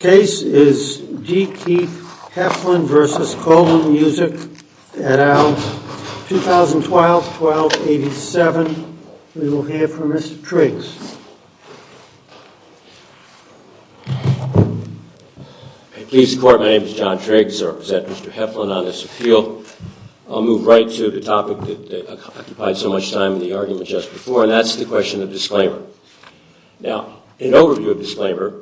The case is D. Keith Heflin v. Coleman Music at our 2012-12-87. We will hear from Mr. Triggs. Pleased to report my name is John Triggs. I represent Mr. Heflin on this appeal. I'll move right to the topic that occupied so much time in the argument just before, and that's the question of disclaimer. Now, in overview of disclaimer,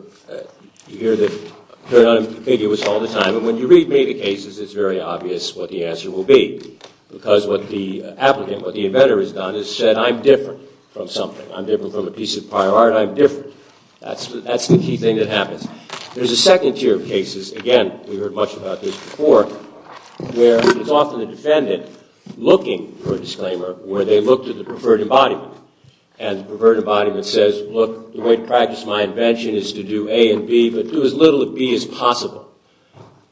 you hear that they're unambiguous all the time. And when you read me the cases, it's very obvious what the answer will be. Because what the applicant, what the inventor has done is said, I'm different from something. I'm different from a piece of prior art. I'm different. That's the key thing that happens. There's a second tier of cases, again, we heard much about this before, where it's often the defendant looking for a disclaimer where they look to the preferred embodiment. And the preferred embodiment says, look, the way to practice my invention is to do A and B, but do as little of B as possible.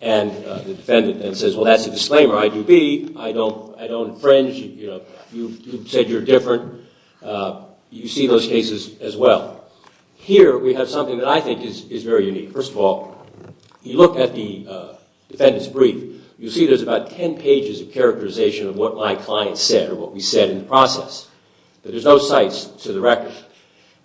And the defendant then says, well, that's a disclaimer. I do B. I don't infringe. You said you're different. You see those cases as well. Here we have something that I think is very unique. First of all, you look at the defendant's brief. You see there's about 10 pages of characterization of what my client said or what we said in the process. There's no cites to the record.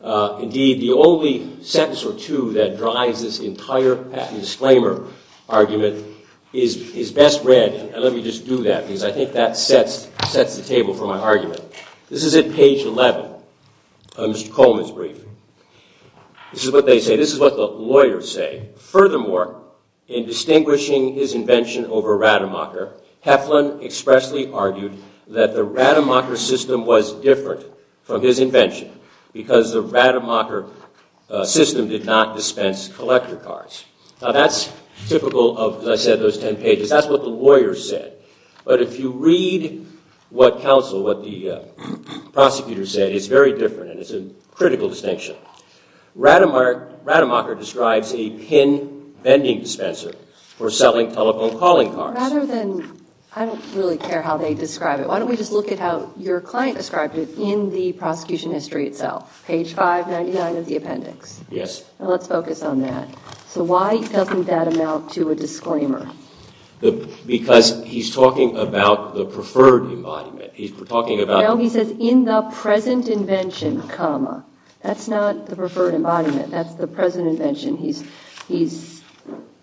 Indeed, the only sentence or two that drives this entire patent disclaimer argument is best read. And let me just do that because I think that sets the table for my argument. This is at page 11 of Mr. Coleman's brief. This is what they say. This is what the lawyers say. Furthermore, in distinguishing his invention over Rademacher, Heflin expressly argued that the Rademacher system was different from his invention because the Rademacher system did not dispense collector cards. Now, that's typical of, as I said, those 10 pages. That's what the lawyers said. But if you read what counsel, what the prosecutor said, it's very different and it's a critical distinction. Rademacher describes a pin vending dispenser for selling telephone calling cards. I don't really care how they describe it. Why don't we just look at how your client described it in the prosecution history itself? Page 599 of the appendix. Yes. Let's focus on that. So why doesn't that amount to a disclaimer? Because he's talking about the preferred embodiment. No, he says in the present invention, comma. That's not the preferred embodiment. That's the present invention. He's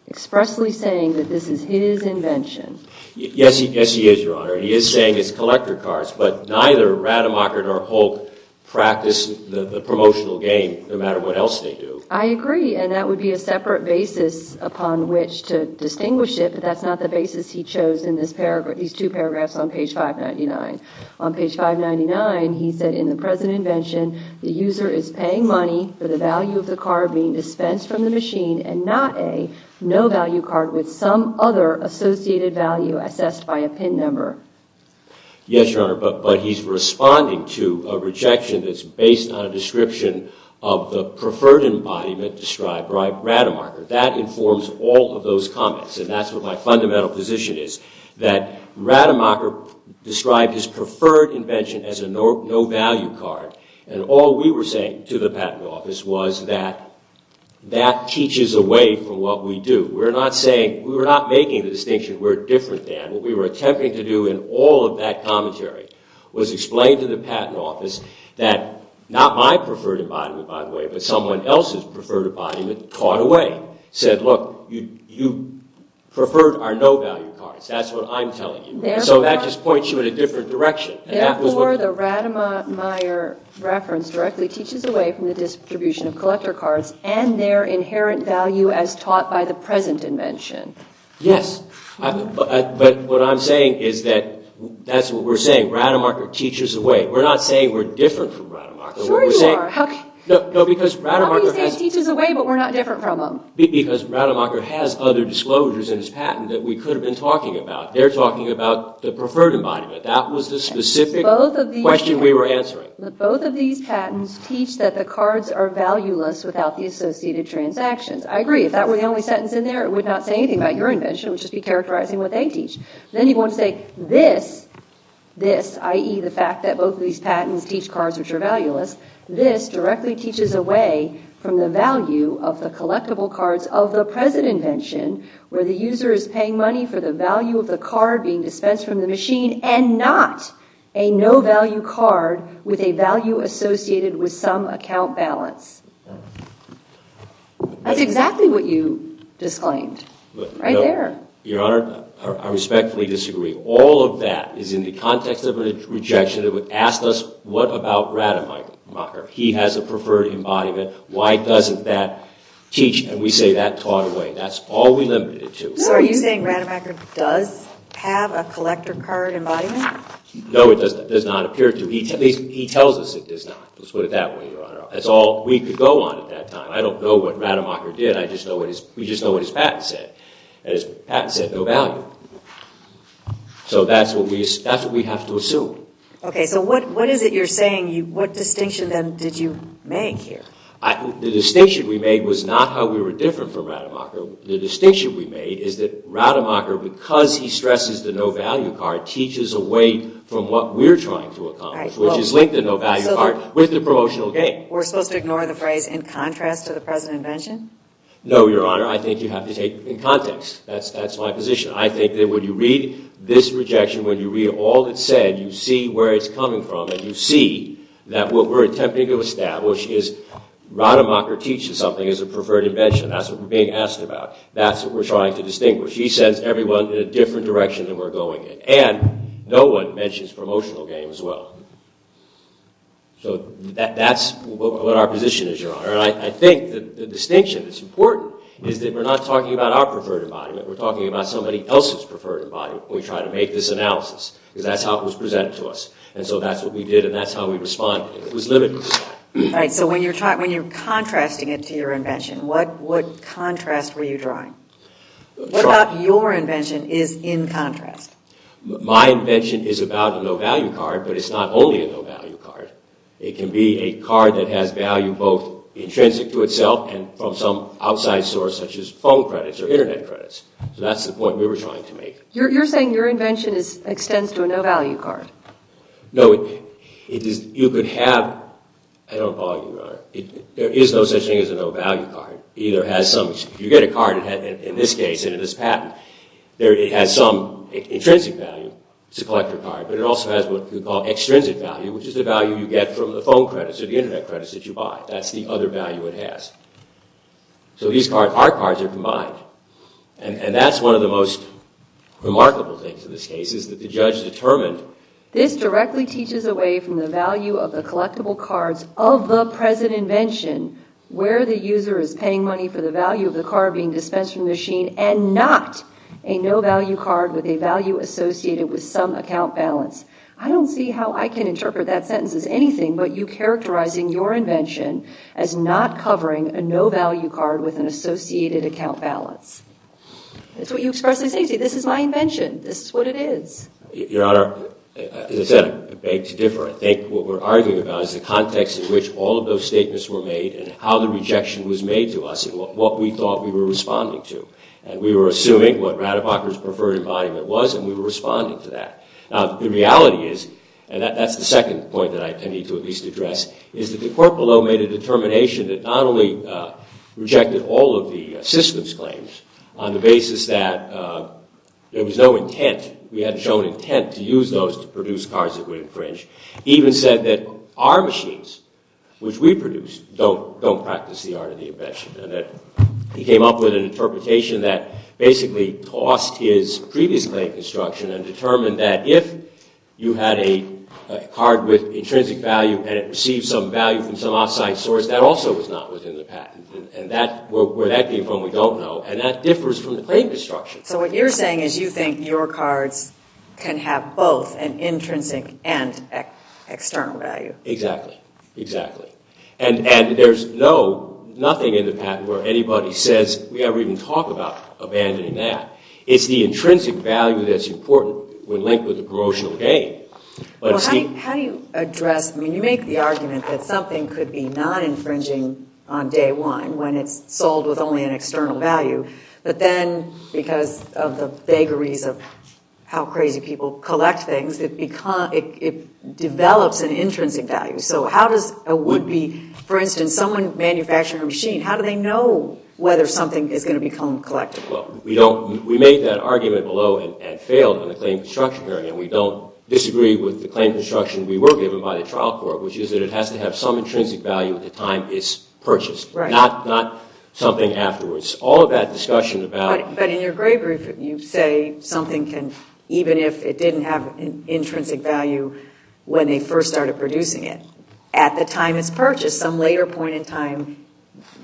expressly saying that this is his invention. Yes, he is, Your Honor. He is saying it's collector cards. But neither Rademacher nor Hulk practice the promotional game no matter what else they do. I agree. And that would be a separate basis upon which to distinguish it. But that's not the basis he chose in these two paragraphs on page 599. On page 599, he said in the present invention, the user is paying money for the value of the card being dispensed from the machine and not a no-value card with some other associated value assessed by a pin number. Yes, Your Honor. But he's responding to a rejection that's based on a description of the preferred embodiment described by Rademacher. That informs all of those comments. And that's what my fundamental position is, that Rademacher described his preferred invention as a no-value card. And all we were saying to the Patent Office was that that teaches away from what we do. We're not saying, we're not making the distinction we're different than. What we were attempting to do in all of that commentary was explain to the Patent Office that not my preferred embodiment, by the way, but someone else's preferred embodiment taught away. Said, look, you preferred our no-value cards. That's what I'm telling you. So that just points you in a different direction. Therefore, the Rademacher reference directly teaches away from the distribution of collector cards and their inherent value as taught by the present invention. Yes. But what I'm saying is that that's what we're saying. Rademacher teaches away. We're not saying we're different from Rademacher. Sure you are. How can you say he teaches away but we're not different from him? Because Rademacher has other disclosures in his patent that we could have been talking about. They're talking about the preferred embodiment. That was the specific question we were answering. Both of these patents teach that the cards are valueless without the associated transactions. I agree. If that were the only sentence in there, it would not say anything about your invention. It would just be characterizing what they teach. Then you want to say this, i.e., the fact that both of these patents teach cards which are valueless. This directly teaches away from the value of the collectible cards of the present invention where the user is paying money for the value of the card being dispensed from the machine and not a no-value card with a value associated with some account balance. That's exactly what you disclaimed. Right there. Your Honor, I respectfully disagree. All of that is in the context of a rejection that would ask us, what about Rademacher? He has a preferred embodiment. Why doesn't that teach? We say that taught away. That's all we limited it to. Are you saying Rademacher does have a collector card embodiment? No, it does not appear to. He tells us it does not. Let's put it that way, Your Honor. That's all we could go on at that time. I don't know what Rademacher did. We just know what his patent said. His patent said no value. That's what we have to assume. What is it you're saying? What distinction, then, did you make here? The distinction we made was not how we were different from Rademacher. The distinction we made is that Rademacher, because he stresses the no-value card, teaches away from what we're trying to accomplish, which is linked to the no-value card with the promotional gain. We're supposed to ignore the phrase in contrast to the President's invention? No, Your Honor. I think you have to take it in context. That's my position. I think that when you read this rejection, when you read all it said, you see where it's coming from and you see that what we're attempting to establish is Rademacher teaches something as a preferred invention. That's what we're being asked about. That's what we're trying to distinguish. He sends everyone in a different direction than we're going in. And no one mentions promotional gain as well. So that's what our position is, Your Honor. And I think the distinction that's important is that we're not talking about our preferred embodiment. We're talking about somebody else's preferred embodiment when we try to make this analysis, because that's how it was presented to us. And so that's what we did and that's how we responded. It was limited. Right. So when you're contrasting it to your invention, what contrast were you drawing? What about your invention is in contrast? My invention is about a no-value card, but it's not only a no-value card. It can be a card that has value both intrinsic to itself and from some outside source, such as phone credits or Internet credits. So that's the point we were trying to make. You're saying your invention extends to a no-value card? No. You could have – I don't apologize, Your Honor. There is no such thing as a no-value card. If you get a card, in this case, in this patent, it has some intrinsic value. It's a collector card, but it also has what we call extrinsic value, which is the value you get from the phone credits or the Internet credits that you buy. That's the other value it has. So our cards are combined. And that's one of the most remarkable things in this case is that the judge determined this directly teaches away from the value of the collectible cards of the present invention where the user is paying money for the value of the card being dispensed from the machine and not a no-value card with a value associated with some account balance. I don't see how I can interpret that sentence as anything but you characterizing your invention as not covering a no-value card with an associated account balance. That's what you expressly say. See, this is my invention. This is what it is. Your Honor, as I said, I beg to differ. I think what we're arguing about is the context in which all of those statements were made and how the rejection was made to us and what we thought we were responding to. And we were assuming what Radebacher's preferred embodiment was, and we were responding to that. Now, the reality is – and that's the second point that I need to at least address – is that the court below made a determination that not only rejected all of the systems claims on the basis that there was no intent, we hadn't shown intent to use those to produce cards that would infringe, even said that our machines, which we produce, don't practice the art of the invention and that he came up with an interpretation that basically tossed his previous claim construction and determined that if you had a card with intrinsic value and it received some value from some outside source, that also was not within the patent. And where that came from, we don't know. And that differs from the claim construction. So what you're saying is you think your cards can have both an intrinsic and external value. Exactly. Exactly. And there's nothing in the patent where anybody says we ever even talk about abandoning that. It's the intrinsic value that's important when linked with a promotional gain. How do you address – I mean, you make the argument that something could be non-infringing on day one when it's sold with only an external value, but then because of the vagaries of how crazy people collect things, it develops an intrinsic value. So how does a would-be – for instance, someone manufacturing a machine, how do they know whether something is going to become collectible? Well, we made that argument below and failed in the claim construction area. And we don't disagree with the claim construction we were given by the trial court, which is that it has to have some intrinsic value at the time it's purchased, not something afterwards. All of that discussion about – But in your gray brief, you say something can – even if it didn't have an intrinsic value when they first started producing it, at the time it's purchased, some later point in time,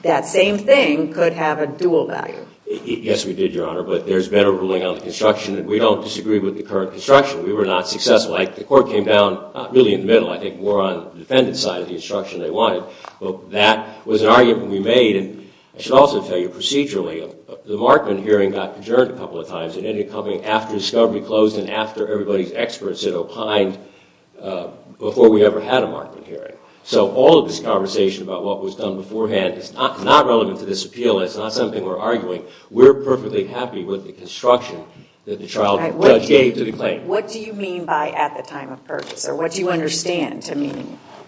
that same thing could have a dual value. Yes, we did, Your Honor, but there's better ruling on the construction, and we don't disagree with the current construction. We were not successful. The court came down not really in the middle. I think more on the defendant's side of the instruction they wanted. But that was an argument we made, and I should also tell you procedurally, the Markman hearing got adjourned a couple of times. It ended up coming after discovery closed and after everybody's experts had opined before we ever had a Markman hearing. So all of this conversation about what was done beforehand is not relevant to this appeal. It's not something we're arguing. We're perfectly happy with the construction that the trial judge gave to the claim. What do you mean by at the time of purchase, or what do you understand to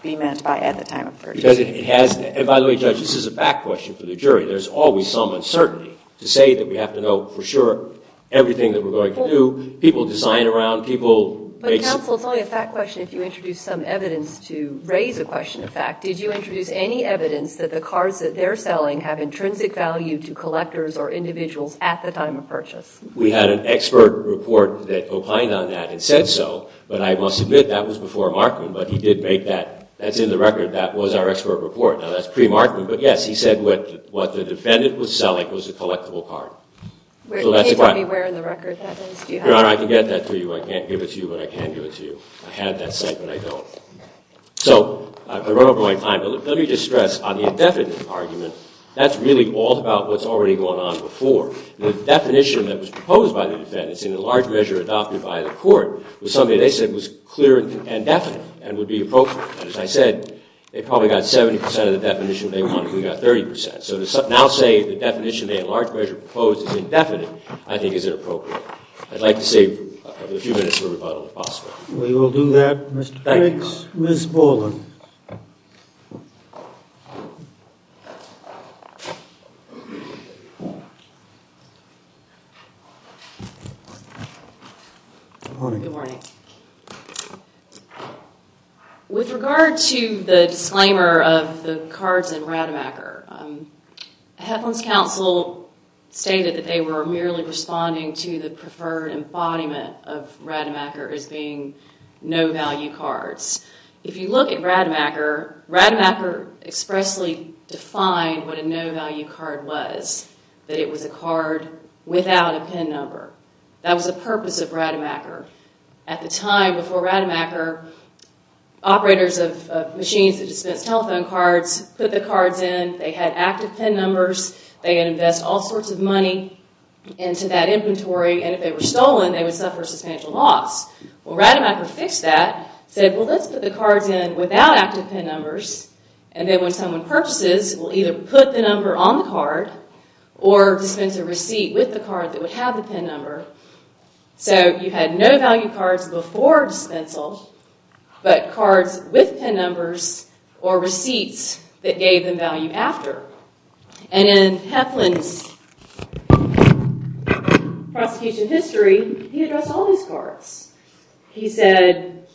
be meant by at the time of purchase? Because it has – and by the way, Judge, this is a fact question for the jury. There's always some uncertainty to say that we have to know for sure everything that we're going to do. People design around people. But, counsel, it's only a fact question if you introduce some evidence to raise a question of fact. Did you introduce any evidence that the cards that they're selling have intrinsic value to collectors or individuals at the time of purchase? We had an expert report that opined on that and said so. But I must admit, that was before Markman. But he did make that – that's in the record. That was our expert report. Now, that's pre-Markman. But, yes, he said what the defendant was selling was a collectible card. Where in the record that is? Your Honor, I can get that to you. I can't give it to you, but I can give it to you. I have that site, but I don't. So, I've run over my time, but let me just stress on the indefinite argument, that's really all about what's already going on before. The definition that was proposed by the defendants in the large measure adopted by the court was something they said was clear and definite and would be appropriate. As I said, they probably got 70 percent of the definition they wanted. We got 30 percent. So to now say the definition they in large measure proposed is indefinite, I think is inappropriate. We will do that. Thank you. Ms. Borland. Good morning. Good morning. With regard to the disclaimer of the cards in Rademacher, Heflin's counsel stated that they were merely responding to the preferred embodiment of Rademacher as being no value cards. If you look at Rademacher, Rademacher expressly defined what a no value card was, that it was a card without a PIN number. That was the purpose of Rademacher. At the time before Rademacher, operators of machines that dispense telephone cards put the cards in. They had active PIN numbers. They could invest all sorts of money into that inventory, and if they were stolen, they would suffer a substantial loss. Well, Rademacher fixed that, said, Well, let's put the cards in without active PIN numbers, and then when someone purchases, we'll either put the number on the card or dispense a receipt with the card that would have the PIN number. So you had no value cards before dispensal, but cards with PIN numbers or receipts that gave them value after. And in Heflin's prosecution history, he addressed all these cards. He said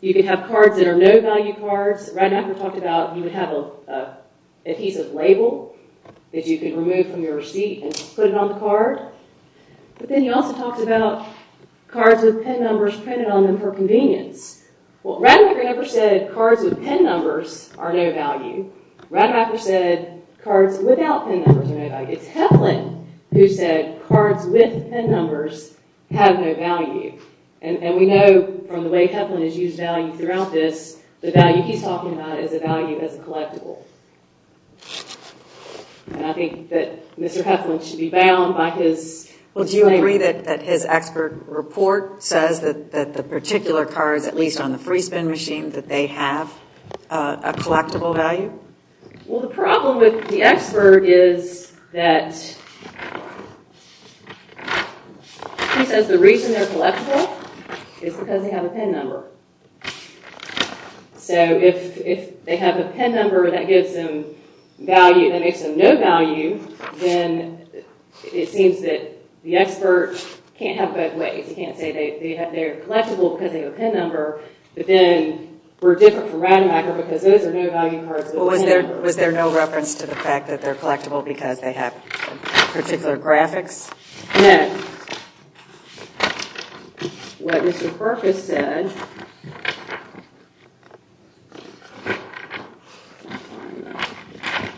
you could have cards that are no value cards. Rademacher talked about you would have a piece of label that you could remove from your receipt and put it on the card. But then he also talked about cards with PIN numbers printed on them for convenience. Well, Rademacher never said cards with PIN numbers are no value. Rademacher said cards without PIN numbers are no value. It's Heflin who said cards with PIN numbers have no value. And we know from the way Heflin has used value throughout this, the value he's talking about is a value as a collectible. And I think that Mr. Heflin should be bound by his claim. Well, do you agree that his expert report says that the particular cards, at least on the free spin machine, that they have a collectible value? Well, the problem with the expert is that he says the reason they're collectible is because they have a PIN number. So if they have a PIN number that makes them no value, then it seems that the expert can't have both ways. He can't say they're collectible because they have a PIN number, but then we're different from Rademacher because those are no value cards. Was there no reference to the fact that they're collectible because they have particular graphics? No. What Mr. Perkis said... Let me find that.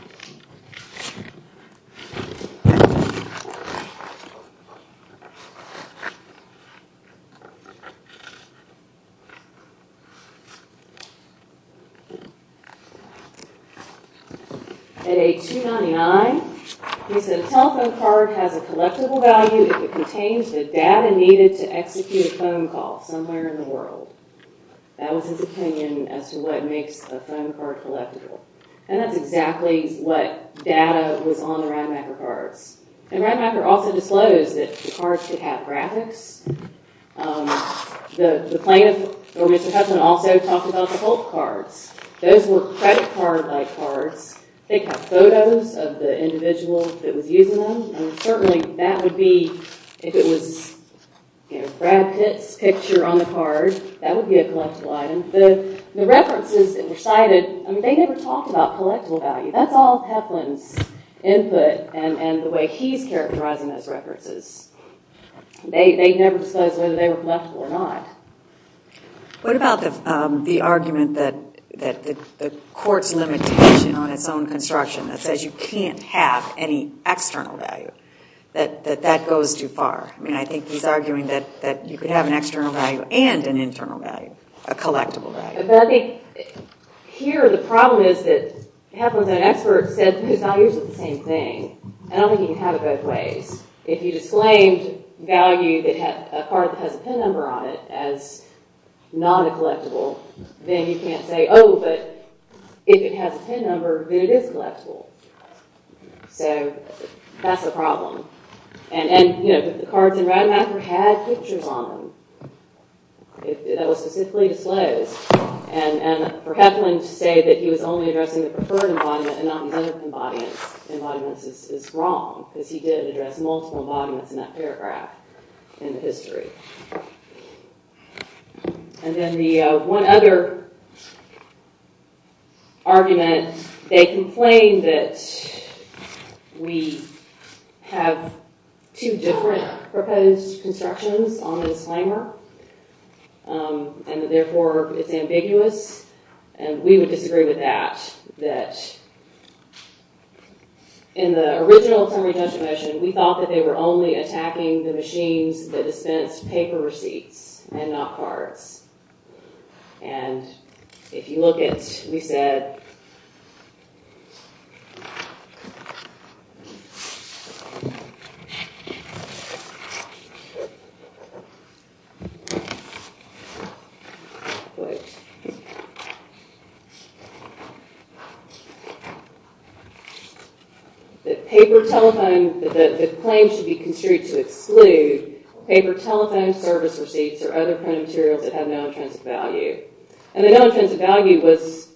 At age 299, he said, a telephone card has a collectible value if it contains the data needed to execute a phone call somewhere in the world. That was his opinion as to what makes a phone card collectible. And that's exactly what data was on the Rademacher cards. And Rademacher also disclosed that the cards could have graphics. The plaintiff, or Mr. Heflin, also talked about the pulp cards. Those were credit card-like cards. They'd have photos of the individual that was using them. Certainly, that would be... If it was Brad Pitt's picture on the card, that would be a collectible item. The references that were cited, they never talked about collectible value. That's all Heflin's input and the way he's characterizing those references. They never disclosed whether they were collectible or not. What about the argument that the court's limitation on its own construction that says you can't have any external value, that that goes too far? I think he's arguing that you can have an external value and an internal value, a collectible value. Here, the problem is that Heflin's own expert said those values are the same thing. I don't think you can have it both ways. If you disclaimed a card that has a PIN number on it as not a collectible, then you can't say, oh, but if it has a PIN number, then it is collectible. So that's the problem. And the cards in Rademacher had pictures on them that were specifically disclosed. And for Heflin to say that he was only addressing the preferred embodiment and not the other embodiments is wrong because he did address multiple embodiments in that paragraph in the history. And then the one other argument, they complained that we have two different proposed constructions on the disclaimer and that, therefore, it's ambiguous. And we would disagree with that, that in the original summary judgment motion, we thought that they were only attacking the machines that dispense paper receipts and not cards. And if you look at, we said... Wait. That paper telephone... That the claim should be construed to exclude paper telephone service receipts or other print materials that have no intrinsic value. And the no intrinsic value was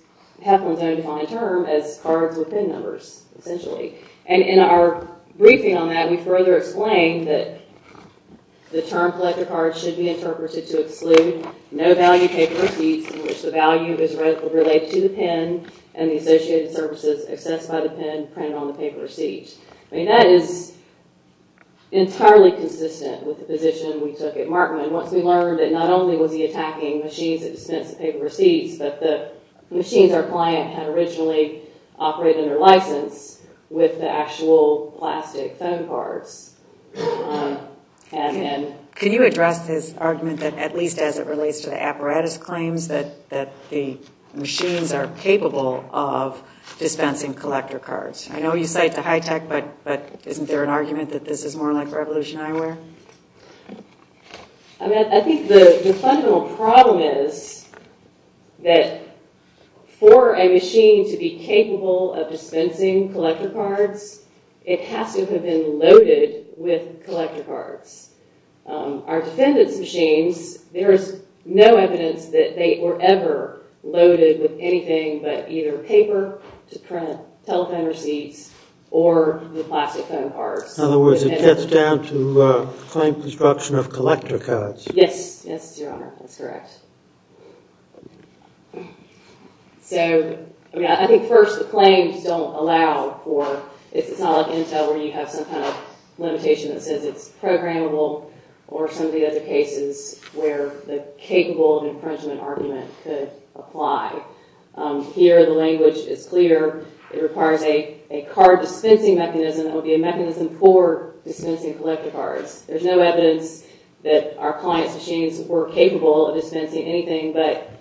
Heflin's own defined term as cards with PIN numbers, essentially. And in our briefing on that, we further explained that the term collector card should be interpreted to exclude no value paper receipts in which the value is related to the PIN and the associated services accessed by the PIN printed on the paper receipt. I mean, that is entirely consistent with the position we took at Markman. Once we learned that not only was he attacking machines that dispense the paper receipts, but the machines our client had originally operated under license with the actual plastic phone cards. And... Can you address his argument that at least as it relates to the apparatus claims that the machines are capable of dispensing collector cards? I know you cite the high tech, but isn't there an argument that this is more like revolution eyewear? I mean, I think the fundamental problem is that for a machine to be capable of dispensing collector cards, it has to have been loaded with collector cards. Our defendant's machines, there is no evidence that they were ever loaded with anything but either paper to print telephone receipts or the plastic phone cards. In other words, it gets down to claim construction of collector cards. Yes, yes, Your Honor, that's correct. So, I mean, I think first the claims don't allow for, it's not like Intel where you have some kind of limitation that says it's programmable or some of the other cases where the capable infringement argument could apply. Here, the language is clear. It requires a card dispensing mechanism that will be a mechanism for dispensing collector cards. There's no evidence that our client's machines were capable of dispensing anything but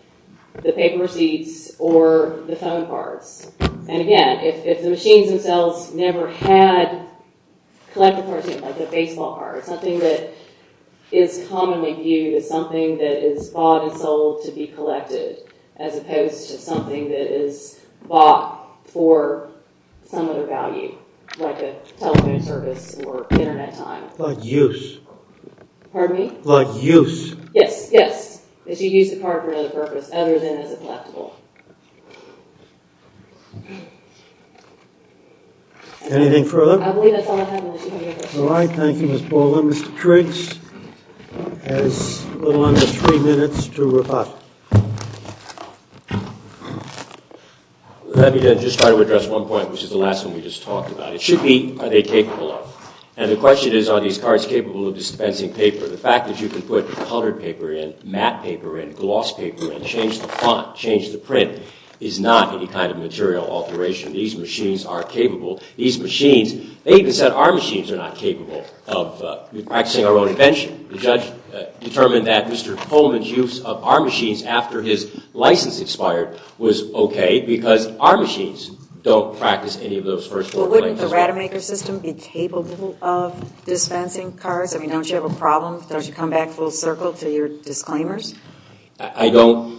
the paper receipts or the phone cards. And again, if the machines themselves never had collector cards, like a baseball card, something that is commonly viewed as something that is bought and sold to be collected as opposed to something that is bought for some other value, like a telephone service or internet time. Like use. Pardon me? Like use. Yes, yes. If you use the card for another purpose other than as a collectible. Anything further? I believe that's all I have. All right. Thank you, Ms. Baldwin. Mr. Triggs has a little under three minutes to rebut. Let me just try to address one point, which is the last one we just talked about. It should be, are they capable of? And the question is, are these cards capable of dispensing paper? The fact that you can put colored paper in, matte paper in, gloss paper in, change the font, change the print, is not any kind of material alteration. These machines are capable. These machines, they even said our machines are not capable of practicing our own invention. The judge determined that Mr. Coleman's use of our machines after his license expired was OK because our machines don't practice any of those first four claims. Well, wouldn't the Rademacher system be capable of dispensing cards? I mean, don't you have a problem? Don't you come back full circle to your disclaimers? I don't.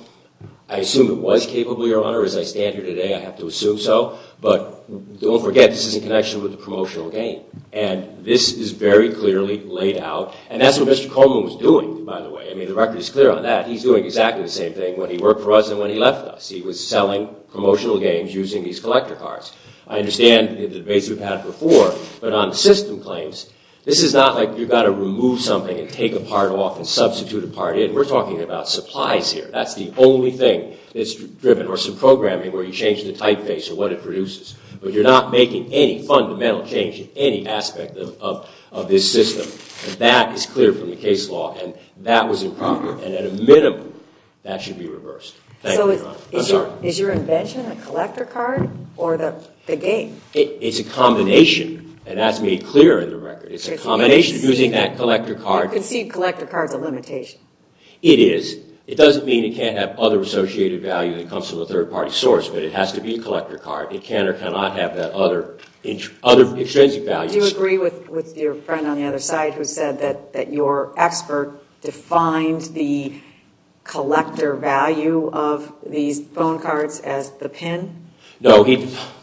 I assume it was capable, Your Honor. As I stand here today, I have to assume so. But don't forget, this is in connection with the promotional game. And this is very clearly laid out. And that's what Mr. Coleman was doing, by the way. I mean, the record is clear on that. He's doing exactly the same thing when he worked for us and when he left us. He was selling promotional games using these collector cards. I understand the debates we've had before. But on system claims, this is not like you've got to remove something and take a part off and substitute a part in. We're talking about supplies here. That's the only thing that's driven. Or some programming where you change the typeface or what it produces. But you're not making any fundamental change in any aspect of this system. And that is clear from the case law. And that was improper. And at a minimum, that should be reversed. Thank you, Your Honor. I'm sorry. Is your invention a collector card or the game? It's a combination. And that's made clear in the record. It's a combination. Using that collector card. Your conceived collector card's a limitation. It is. It doesn't mean it can't have other associated value that comes from a third party source. But it has to be a collector card. It can or cannot have that other extrinsic value. Do you agree with your friend on the other side who said that your expert defined the collector value of these phone cards as the pin? No.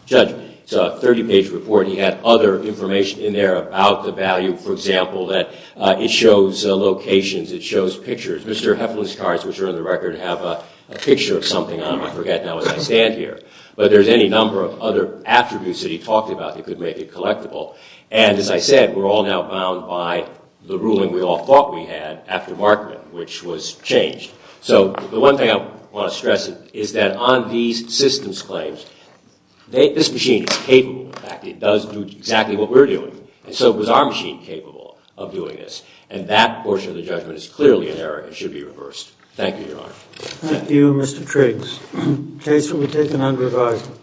Judge, it's a 30-page report. He had other information in there about the value, for example, that it shows locations. It shows pictures. Mr. Heflin's cards, which are in the record, have a picture of something on them. I forget now as I stand here. But there's any number of other attributes that he talked about that could make it collectible. And as I said, we're all now bound by the ruling we all thought we had after Markman, which was changed. So the one thing I want to stress is that on these systems claims, this machine is capable. In fact, it does do exactly what we're doing. And so it was our machine capable of doing this. And that portion of the judgment is clearly in error and should be reversed. Thank you, Your Honor. Thank you, Mr. Triggs. Case will be taken under advisory.